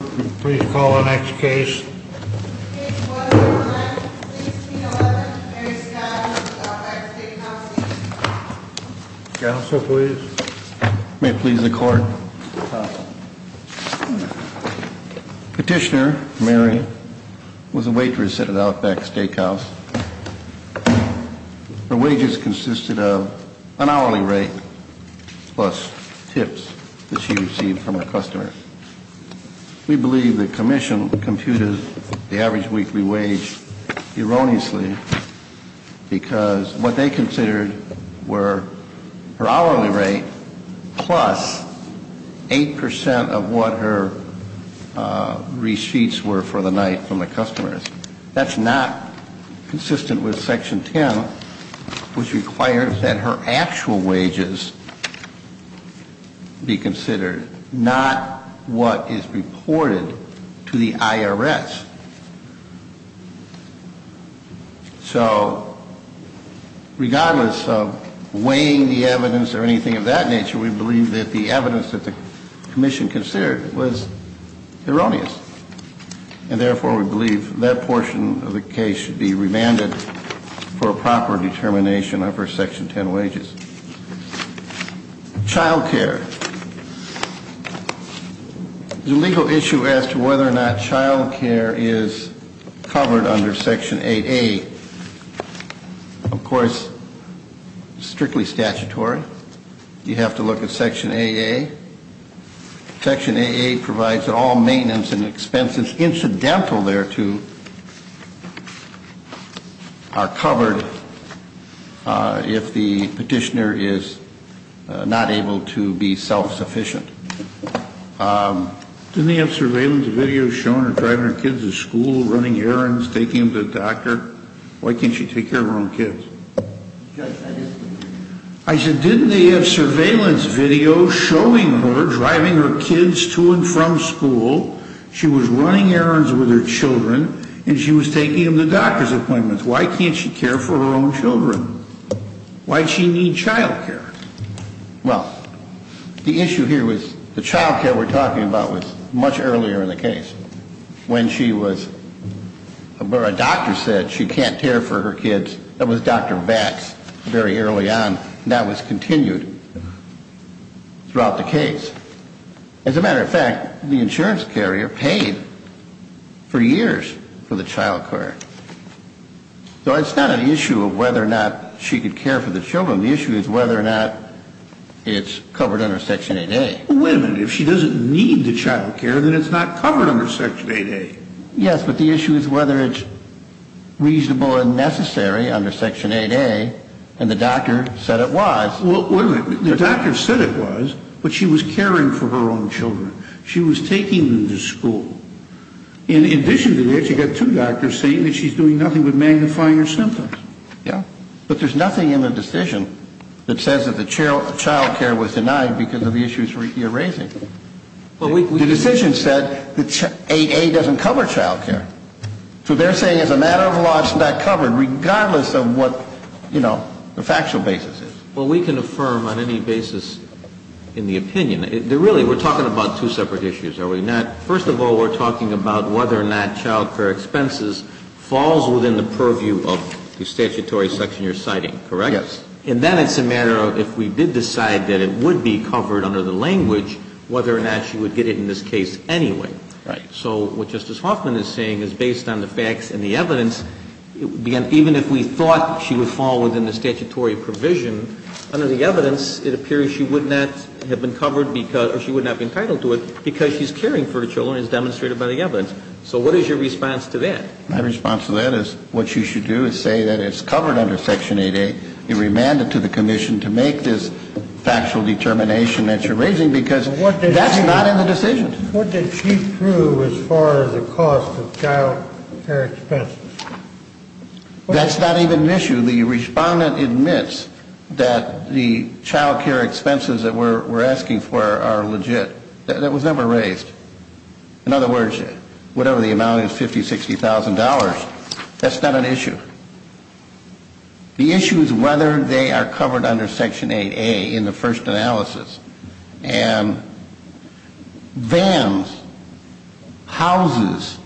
Please call the next case. Case 1-9-1611, Mary Scott, Outback Steakhouse. Counsel, please. May it please the Court. Petitioner Mary was a waitress at an Outback Steakhouse. Her wages consisted of an hourly rate plus tips that she received from her customers. We believe the Commission computed the average weekly wage erroneously because what they considered were her hourly rate plus 8% of what her receipts were for the night from the customers. That's not consistent with Section 10, which requires that her actual wages be considered, not what is reported to the IRS. So regardless of weighing the evidence or anything of that nature, we believe that the evidence that the Commission considered was erroneous. And therefore, we believe that portion of the case should be remanded for a proper determination of her Section 10 wages. Child care. The legal issue as to whether or not child care is covered under Section 8A, of course, is strictly statutory. You have to look at Section 8A. Section 8A provides that all maintenance and expenses incidental thereto are covered if the petitioner is not able to be self-sufficient. Didn't they have surveillance videos showing her driving her kids to school, running errands, taking them to the doctor? Why can't she take care of her own kids? I said, didn't they have surveillance videos showing her driving her kids to and from school, she was running errands with her children, and she was taking them to doctor's appointments? Why can't she care for her own children? Why does she need child care? Well, the issue here was the child care we're talking about was much earlier in the case. When she was, where a doctor said she can't care for her kids, that was Dr. Vax very early on. That was continued throughout the case. As a matter of fact, the insurance carrier paid for years for the child care. So it's not an issue of whether or not she could care for the children. The issue is whether or not it's covered under Section 8A. Well, wait a minute. If she doesn't need the child care, then it's not covered under Section 8A. Yes, but the issue is whether it's reasonable and necessary under Section 8A, and the doctor said it was. Well, wait a minute. The doctor said it was, but she was caring for her own children. She was taking them to school. In addition to that, you've got two doctors saying that she's doing nothing but magnifying her symptoms. Yeah. But there's nothing in the decision that says that the child care was denied because of the issues you're raising. The decision said that 8A doesn't cover child care. So they're saying as a matter of law, it's not covered, regardless of what, you know, the factual basis is. Well, we can affirm on any basis in the opinion. Really, we're talking about two separate issues, are we not? First of all, we're talking about whether or not child care expenses falls within the purview of the statutory section you're citing, correct? Yes. And then it's a matter of if we did decide that it would be covered under the language, whether or not she would get it in this case anyway. Right. So what Justice Hoffman is saying is based on the facts and the evidence, even if we thought she would fall within the statutory provision, under the evidence it appears she would not have been covered because or she would not be entitled to it because she's caring for her children as demonstrated by the evidence. So what is your response to that? My response to that is what you should do is say that it's covered under Section 8A. You remand it to the commission to make this factual determination that you're raising because that's not in the decision. What did she prove as far as the cost of child care expenses? That's not even an issue. The respondent admits that the child care expenses that we're asking for are legit. That was never raised. In other words, whatever the amount is, $50,000, $60,000, that's not an issue. The issue is whether they are covered under Section 8A in the first analysis. And vans, houses,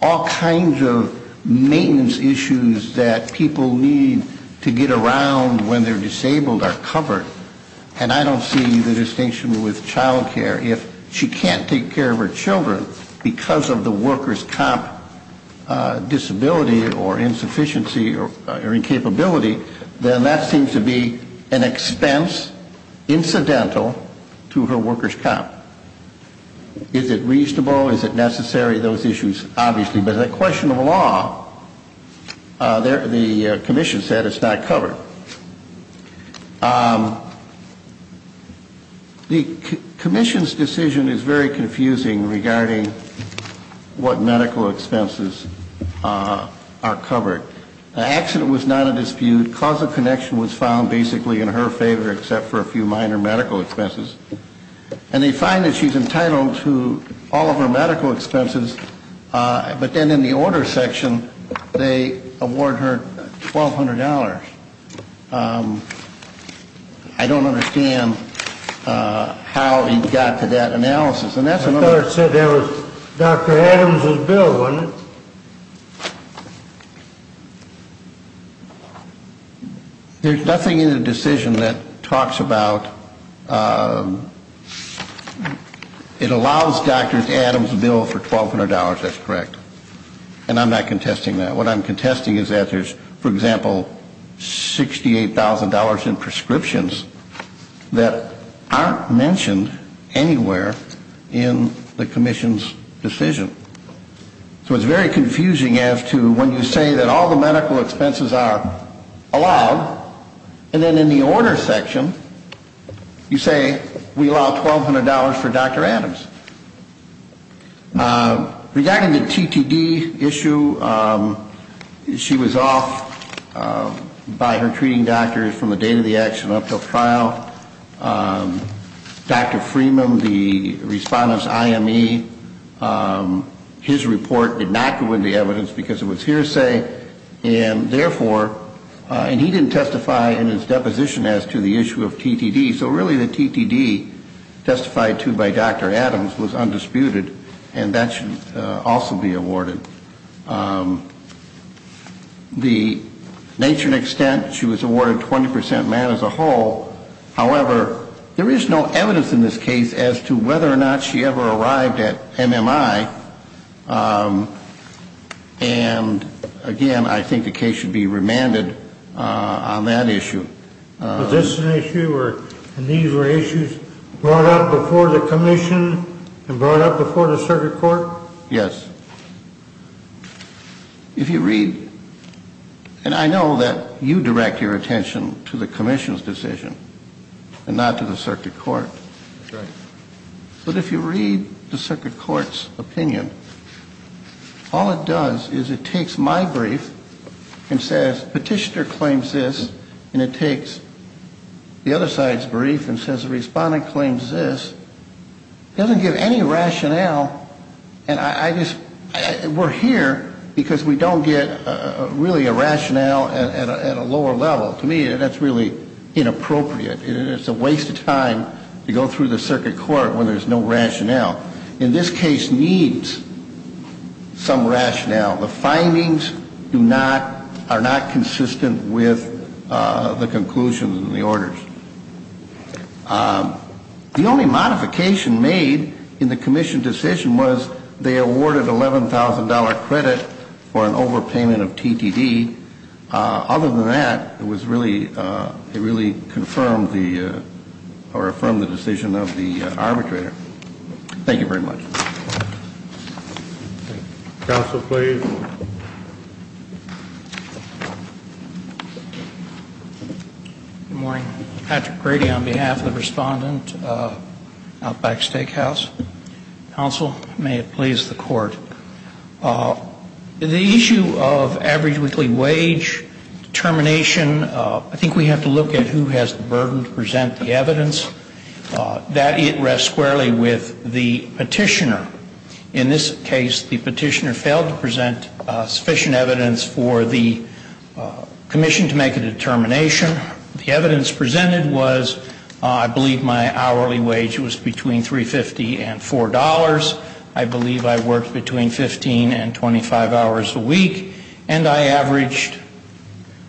all kinds of maintenance issues that people need to get around when they're disabled are covered. And I don't see the distinction with child care. If she can't take care of her children because of the workers' comp disability or insufficiency or incapability, then that seems to be an expense incidental to her workers' comp. Is it reasonable? Is it necessary? Those issues, obviously. But the question of law, the commission said it's not covered. The commission's decision is very confusing regarding what medical expenses are covered. The accident was not a dispute. Cause of connection was found basically in her favor except for a few minor medical expenses. And they find that she's entitled to all of her medical expenses. But then in the order section, they award her $1,200. I don't understand how he got to that analysis. And that's another. I thought it said that was Dr. Adams' bill, wasn't it? There's nothing in the decision that talks about it allows Dr. Adams' bill for $1,200. That's correct. And I'm not contesting that. What I'm contesting is that there's, for example, $68,000 in prescriptions that aren't mentioned anywhere in the commission's decision. So it's very confusing as to when you say that all the medical expenses are allowed, and then in the order section you say we allow $1,200 for Dr. Adams. Regarding the TTD issue, she was off by her treating doctors from the date of the action up until trial. Dr. Freeman, the respondent's IME, his report did not go in the evidence because it was hearsay. And therefore, and he didn't testify in his deposition as to the issue of TTD. So really the TTD testified to by Dr. Adams was undisputed, and that should also be awarded. The nature and extent, she was awarded 20% man as a whole. However, there is no evidence in this case as to whether or not she ever arrived at MMI. And, again, I think the case should be remanded on that issue. Was this an issue, and these were issues brought up before the commission and brought up before the circuit court? Yes. If you read, and I know that you direct your attention to the commission's decision and not to the circuit court. That's right. But if you read the circuit court's opinion, all it does is it takes my brief and says petitioner claims this, and it takes the other side's brief and says the respondent claims this. It doesn't give any rationale, and I just, we're here because we don't get really a rationale at a lower level. To me, that's really inappropriate. It's a waste of time to go through the circuit court when there's no rationale. In this case needs some rationale. The findings do not, are not consistent with the conclusions and the orders. The only modification made in the commission decision was they awarded $11,000 credit for an overpayment of TTD. Other than that, it was really, it really confirmed the, or affirmed the decision of the arbitrator. Thank you very much. Counsel, please. Good morning. Patrick Grady on behalf of the respondent, Outback Steakhouse. Counsel, may it please the court. The issue of average weekly wage determination, I think we have to look at who has the burden to present the evidence. That, it rests squarely with the petitioner. In this case, the petitioner failed to present sufficient evidence for the commission to make a determination. The evidence presented was, I believe my hourly wage was between $3.50 and $4. I believe I worked between 15 and 25 hours a week, and I averaged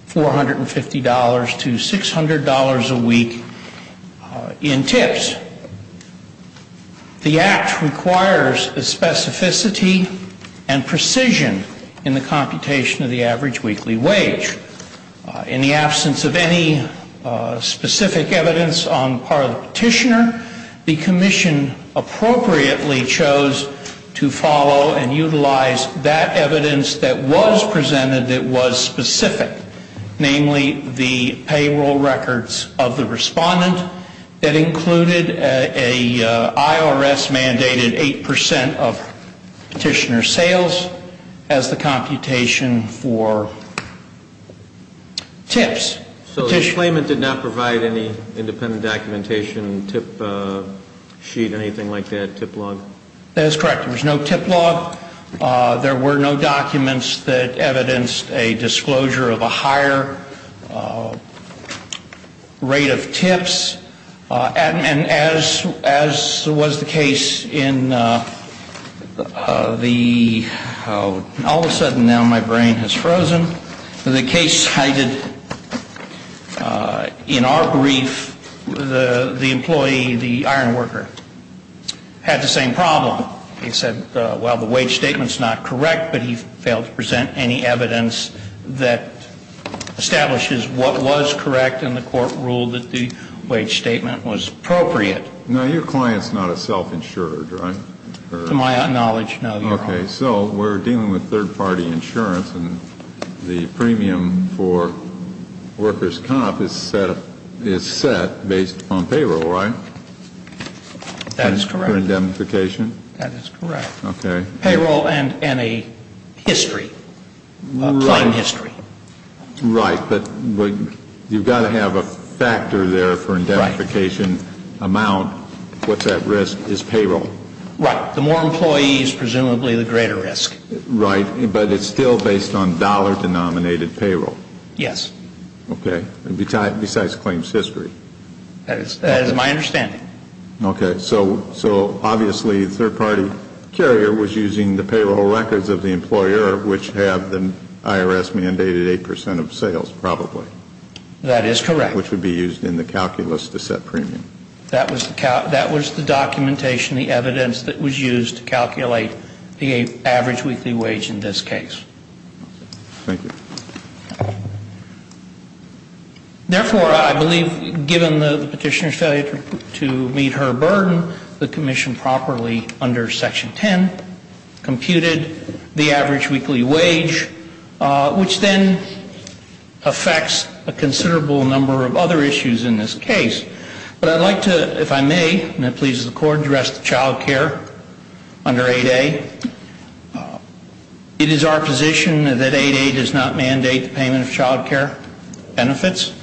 $450 to $600 a week in tips. The act requires specificity and precision in the computation of the average weekly wage. In the absence of any specific evidence on the part of the petitioner, the commission appropriately chose to follow and utilize that evidence that was presented that was specific, namely the payroll records of the respondent that included an IRS-mandated 8% of petitioner sales as the computation for tips. So the claimant did not provide any independent documentation, tip sheet, anything like that, tip log? That is correct. There was no tip log. There were no documents that evidenced a disclosure of a higher rate of tips. And as was the case in the – all of a sudden now my brain has frozen. The case cited in our brief, the employee, the iron worker, had the same problem. He said, well, the wage statement's not correct, but he failed to present any evidence that establishes what was correct and the court ruled that the wage statement was appropriate. Now, your client's not a self-insured, right? To my knowledge, no, Your Honor. Okay. So we're dealing with third-party insurance and the premium for workers' comp is set based on payroll, right? That is correct. For indemnification? That is correct. Okay. Payroll and a history, a plain history. Right. But you've got to have a factor there for indemnification amount. What's at risk is payroll. Right. The more employees, presumably, the greater risk. Right. But it's still based on dollar-denominated payroll? Yes. Okay. Besides claims history. That is my understanding. Okay. So obviously the third-party carrier was using the payroll records of the employer, which have the IRS-mandated 8 percent of sales, probably. That is correct. Which would be used in the calculus to set premium. That was the documentation, the evidence that was used to calculate the average weekly wage in this case. Thank you. Therefore, I believe, given the Petitioner's failure to meet her burden, the Commission properly, under Section 10, computed the average weekly wage, which then affects a considerable number of other issues in this case. But I'd like to, if I may, and that pleases the Court, address the child care under 8A. It is our position that 8A does not mandate the payment of child care benefits.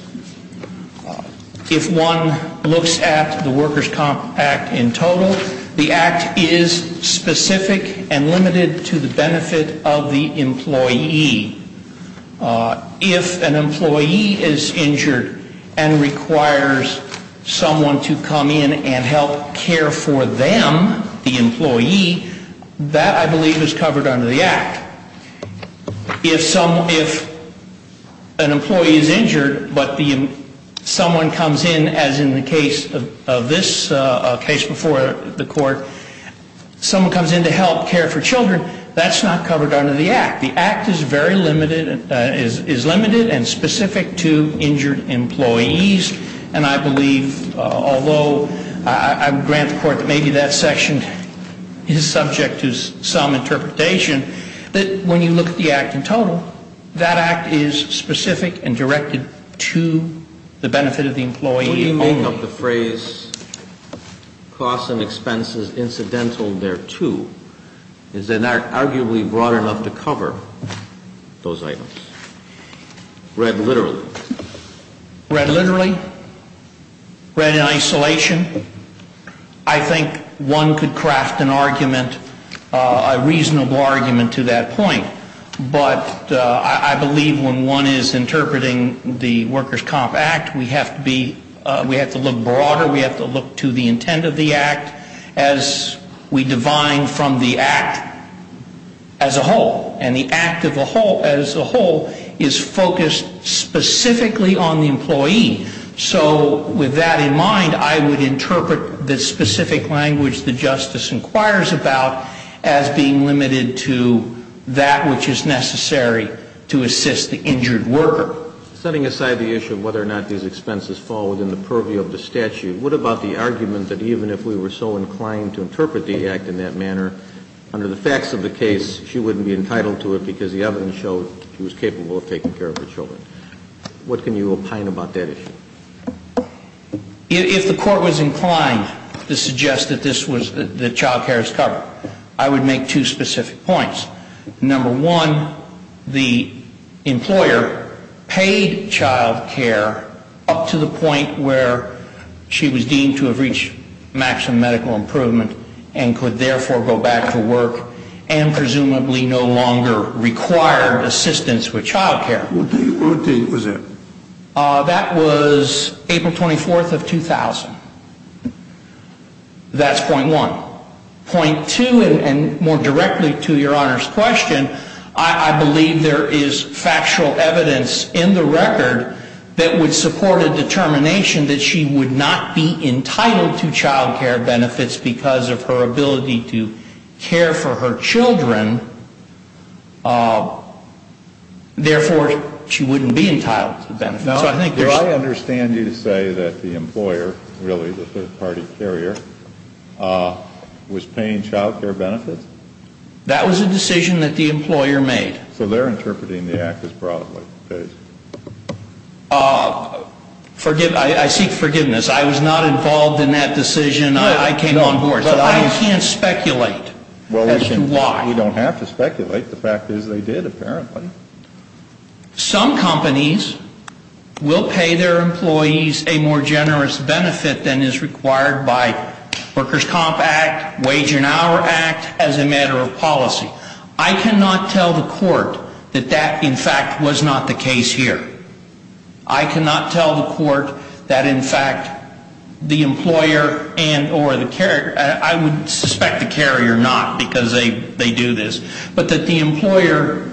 If one looks at the Workers' Comp Act in total, the Act is specific and limited to the benefit of the employee. If an employee is injured and requires someone to come in and help care for them, the employee, that, I believe, is covered under the Act. If an employee is injured but someone comes in, as in the case of this case before the Court, someone comes in to help care for children, that's not covered under the Act. The Act is very limited, is limited and specific to injured employees. And I believe, although I would grant the Court that maybe that section is subject to some interpretation, that when you look at the Act in total, that Act is specific and directed to the benefit of the employee only. When you make up the phrase, costs and expenses incidental thereto, is it arguably broad enough to cover those items, read literally? Read literally? Read in isolation? I think one could craft an argument, a reasonable argument to that point. But I believe when one is interpreting the Workers' Comp Act, we have to be, we have to look broader, we have to look to the intent of the Act as we divine from the Act as a whole. And the Act as a whole is focused specifically on the employee. So with that in mind, I would interpret the specific language the Justice inquires about as being limited to that which is necessary to assist the injured worker. Setting aside the issue of whether or not these expenses fall within the purview of the statute, what about the argument that even if we were so inclined to interpret the Act in that manner, under the facts of the case, she wouldn't be entitled to it because the evidence showed she was capable of taking care of her children? What can you opine about that issue? If the Court was inclined to suggest that this was, that child care is covered, I would make two specific points. Number one, the employer paid child care up to the point where she was deemed to have reached maximum medical improvement and could therefore go back to work and presumably no longer require assistance with child care. What date was that? That was April 24th of 2000. That's point one. Point two, and more directly to Your Honor's question, I believe there is factual evidence in the record that would support a determination that she would not be entitled to child care benefits because of her ability to care for her children. Therefore, she wouldn't be entitled to benefits. No. Do I understand you to say that the employer, really the third-party carrier, was paying child care benefits? That was a decision that the employer made. So they're interpreting the Act as broadly based. I seek forgiveness. I was not involved in that decision. I came on board. But I can't speculate as to why. Well, you don't have to speculate. The fact is they did, apparently. Some companies will pay their employees a more generous benefit than is required by Workers' Comp Act, Wage and Hour Act, as a matter of policy. I cannot tell the court that that, in fact, was not the case here. I cannot tell the court that, in fact, the employer and or the carrier, I would suspect the carrier not because they do this, but that the employer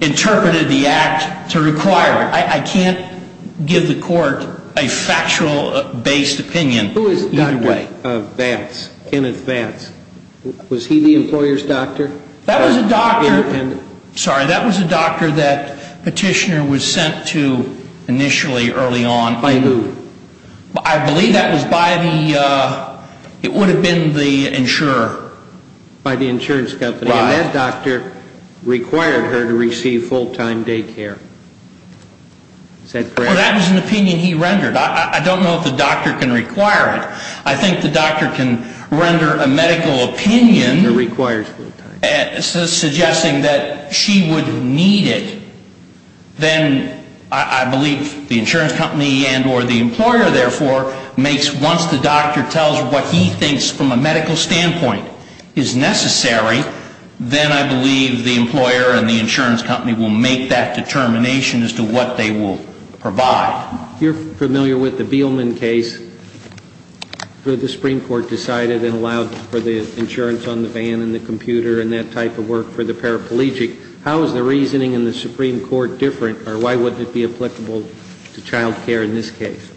interpreted the Act to require it. I can't give the court a factual-based opinion either way. Who is Dr. Vance, Kenneth Vance? Was he the employer's doctor? That was a doctor, sorry, that was a doctor that Petitioner was sent to initially early on. By who? I believe that was by the, it would have been the insurer. By the insurance company. Right. And that doctor required her to receive full-time daycare. Is that correct? Well, that was an opinion he rendered. I don't know if the doctor can require it. I think the doctor can render a medical opinion suggesting that she would need it. Then I believe the insurance company and or the employer, therefore, makes, once the doctor tells what he thinks from a medical standpoint is necessary, then I believe the employer and the insurance company will make that determination as to what they will provide. You're familiar with the Beelman case where the Supreme Court decided and allowed for the insurance on the van and the computer and that type of work for the paraplegic. How is the reasoning in the Supreme Court different, or why would it be applicable to child care in this case?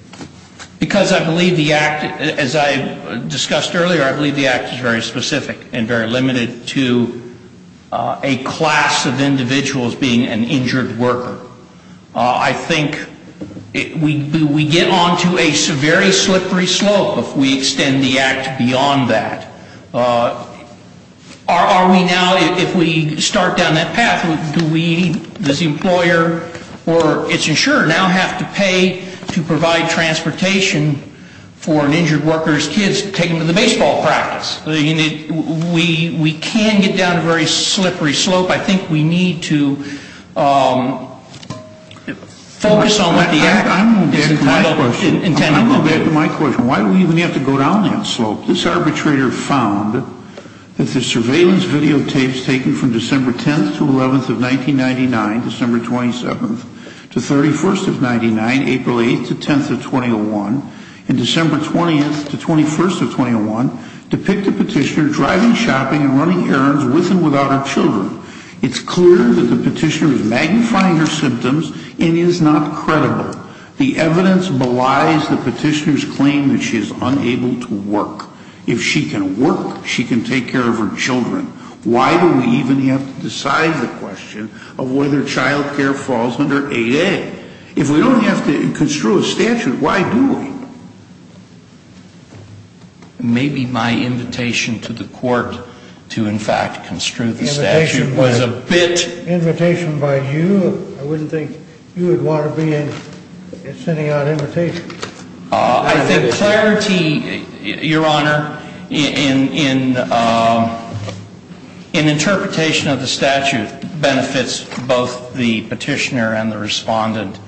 Because I believe the Act, as I discussed earlier, I believe the Act is very specific and very limited to a class of individuals being an injured worker. I think we get on to a very slippery slope if we extend the Act beyond that. Are we now, if we start down that path, does the employer or its insurer now have to pay to provide transportation for an injured worker's kids to take them to the baseball practice? We can get down a very slippery slope. I think we need to focus on what the Act is intending to do. I'm going back to my question. Why do we even have to go down that slope? This arbitrator found that the surveillance videotapes taken from December 10th to 11th of 1999, December 27th to 31st of 99, April 8th to 10th of 2001, and December 20th to 21st of 2001, depict a petitioner driving, shopping, and running errands with and without her children. It's clear that the petitioner is magnifying her symptoms and is not credible. The evidence belies the petitioner's claim that she is unable to work. If she can work, she can take care of her children. Why do we even have to decide the question of whether child care falls under 8A? If we don't have to construe a statute, why do we? Maybe my invitation to the court to, in fact, construe the statute was a bit... Invitation by you? I wouldn't think you would want to be in sending out invitations. I think clarity, Your Honor, in interpretation of the statute benefits both the petitioner and the respondent.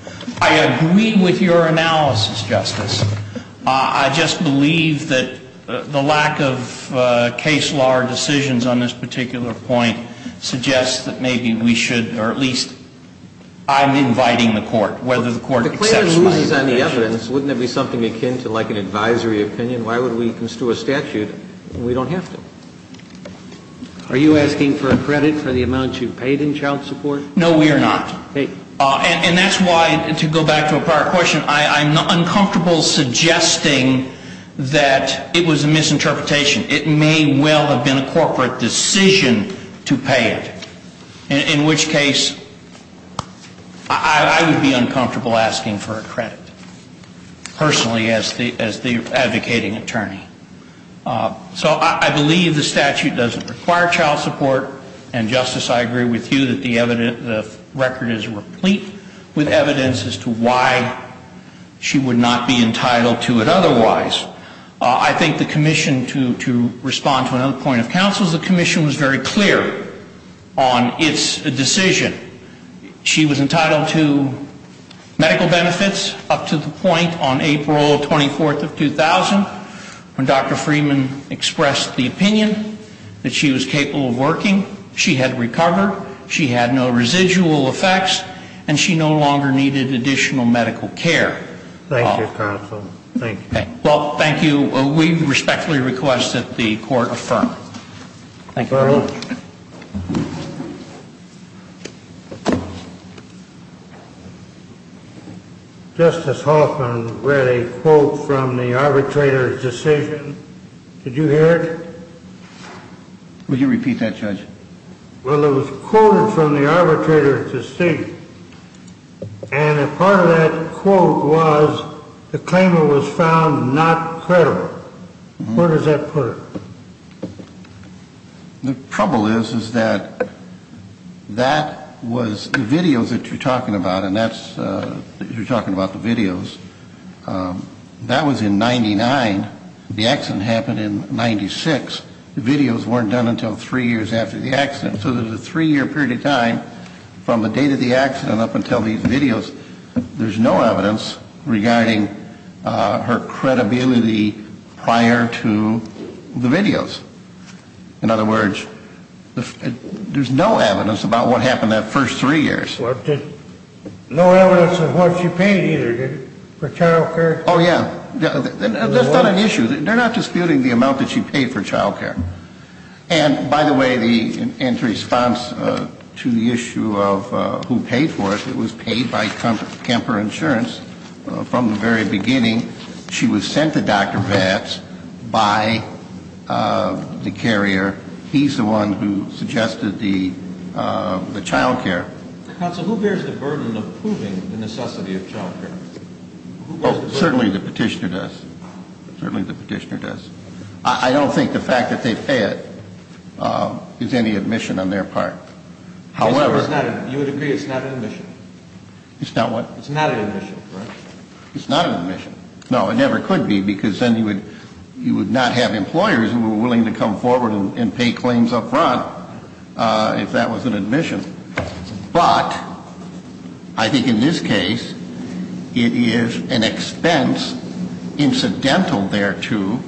I agree with your analysis, Justice. I just believe that the lack of case law or decisions on this particular point suggests that maybe we should, or at least I'm inviting the court, whether the court accepts my invitation. If the claim relies on the evidence, wouldn't that be something akin to like an advisory opinion? Why would we construe a statute when we don't have to? Are you asking for a credit for the amount you paid in child support? No, we are not. And that's why, to go back to a prior question, I'm uncomfortable suggesting that it was a misinterpretation. It may well have been a corporate decision to pay it. In which case, I would be uncomfortable asking for a credit personally as the advocating attorney. So I believe the statute doesn't require child support. And, Justice, I agree with you that the record is replete with evidence as to why she would not be entitled to it otherwise. I think the commission, to respond to another point of counsel, is the commission was very clear on its decision. She was entitled to medical benefits up to the point on April 24th of 2000, when Dr. Freeman expressed the opinion that she was capable of working. She had recovered. She had no residual effects. And she no longer needed additional medical care. Thank you, counsel. Thank you. Well, thank you. We respectfully request that the court affirm. Thank you very much. Justice Hoffman read a quote from the arbitrator's decision. Did you hear it? Will you repeat that, Judge? Well, it was quoted from the arbitrator's decision. And a part of that quote was the claimant was found not credible. Where does that put her? The trouble is, is that that was the videos that you're talking about, and that's you're talking about the videos. That was in 99. The accident happened in 96. The videos weren't done until three years after the accident. So there's a three-year period of time from the date of the accident up until these videos. There's no evidence regarding her credibility prior to the videos. In other words, there's no evidence about what happened that first three years. No evidence of what she paid either, did it? For child care? Oh, yeah. That's not an issue. They're not disputing the amount that she paid for child care. And, by the way, in response to the issue of who paid for it, it was paid by Kemper Insurance from the very beginning. She was sent to Dr. Vatz by the carrier. He's the one who suggested the child care. Counsel, who bears the burden of proving the necessity of child care? Certainly the petitioner does. Certainly the petitioner does. I don't think the fact that they pay it is any admission on their part. However. You would agree it's not an admission? It's not what? It's not an admission, correct? It's not an admission. No, it never could be because then you would not have employers who were willing to come forward and pay claims up front if that was an admission. But, I think in this case, it is an expense incidental thereto,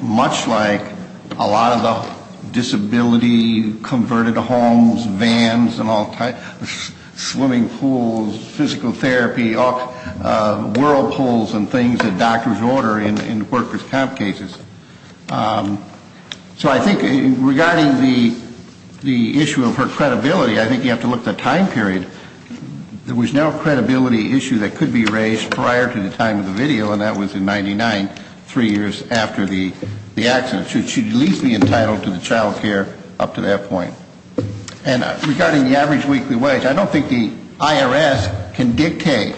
much like a lot of the disability converted homes, vans and all types, swimming pools, physical therapy, whirlpools and things that doctors order in workers' camp cases. So I think regarding the issue of her credibility, I think you have to look at the time period. There was no credibility issue that could be raised prior to the time of the video, and that was in 1999, three years after the accident. She should at least be entitled to the child care up to that point. And regarding the average weekly wage, I don't think the IRS can dictate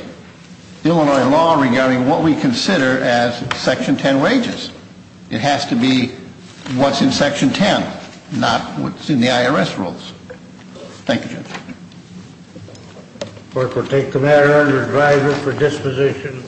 Illinois law regarding what we consider as Section 10 wages. It has to be what's in Section 10, not what's in the IRS rules. Thank you, Judge. Clerk will take the matter under driver for disposition.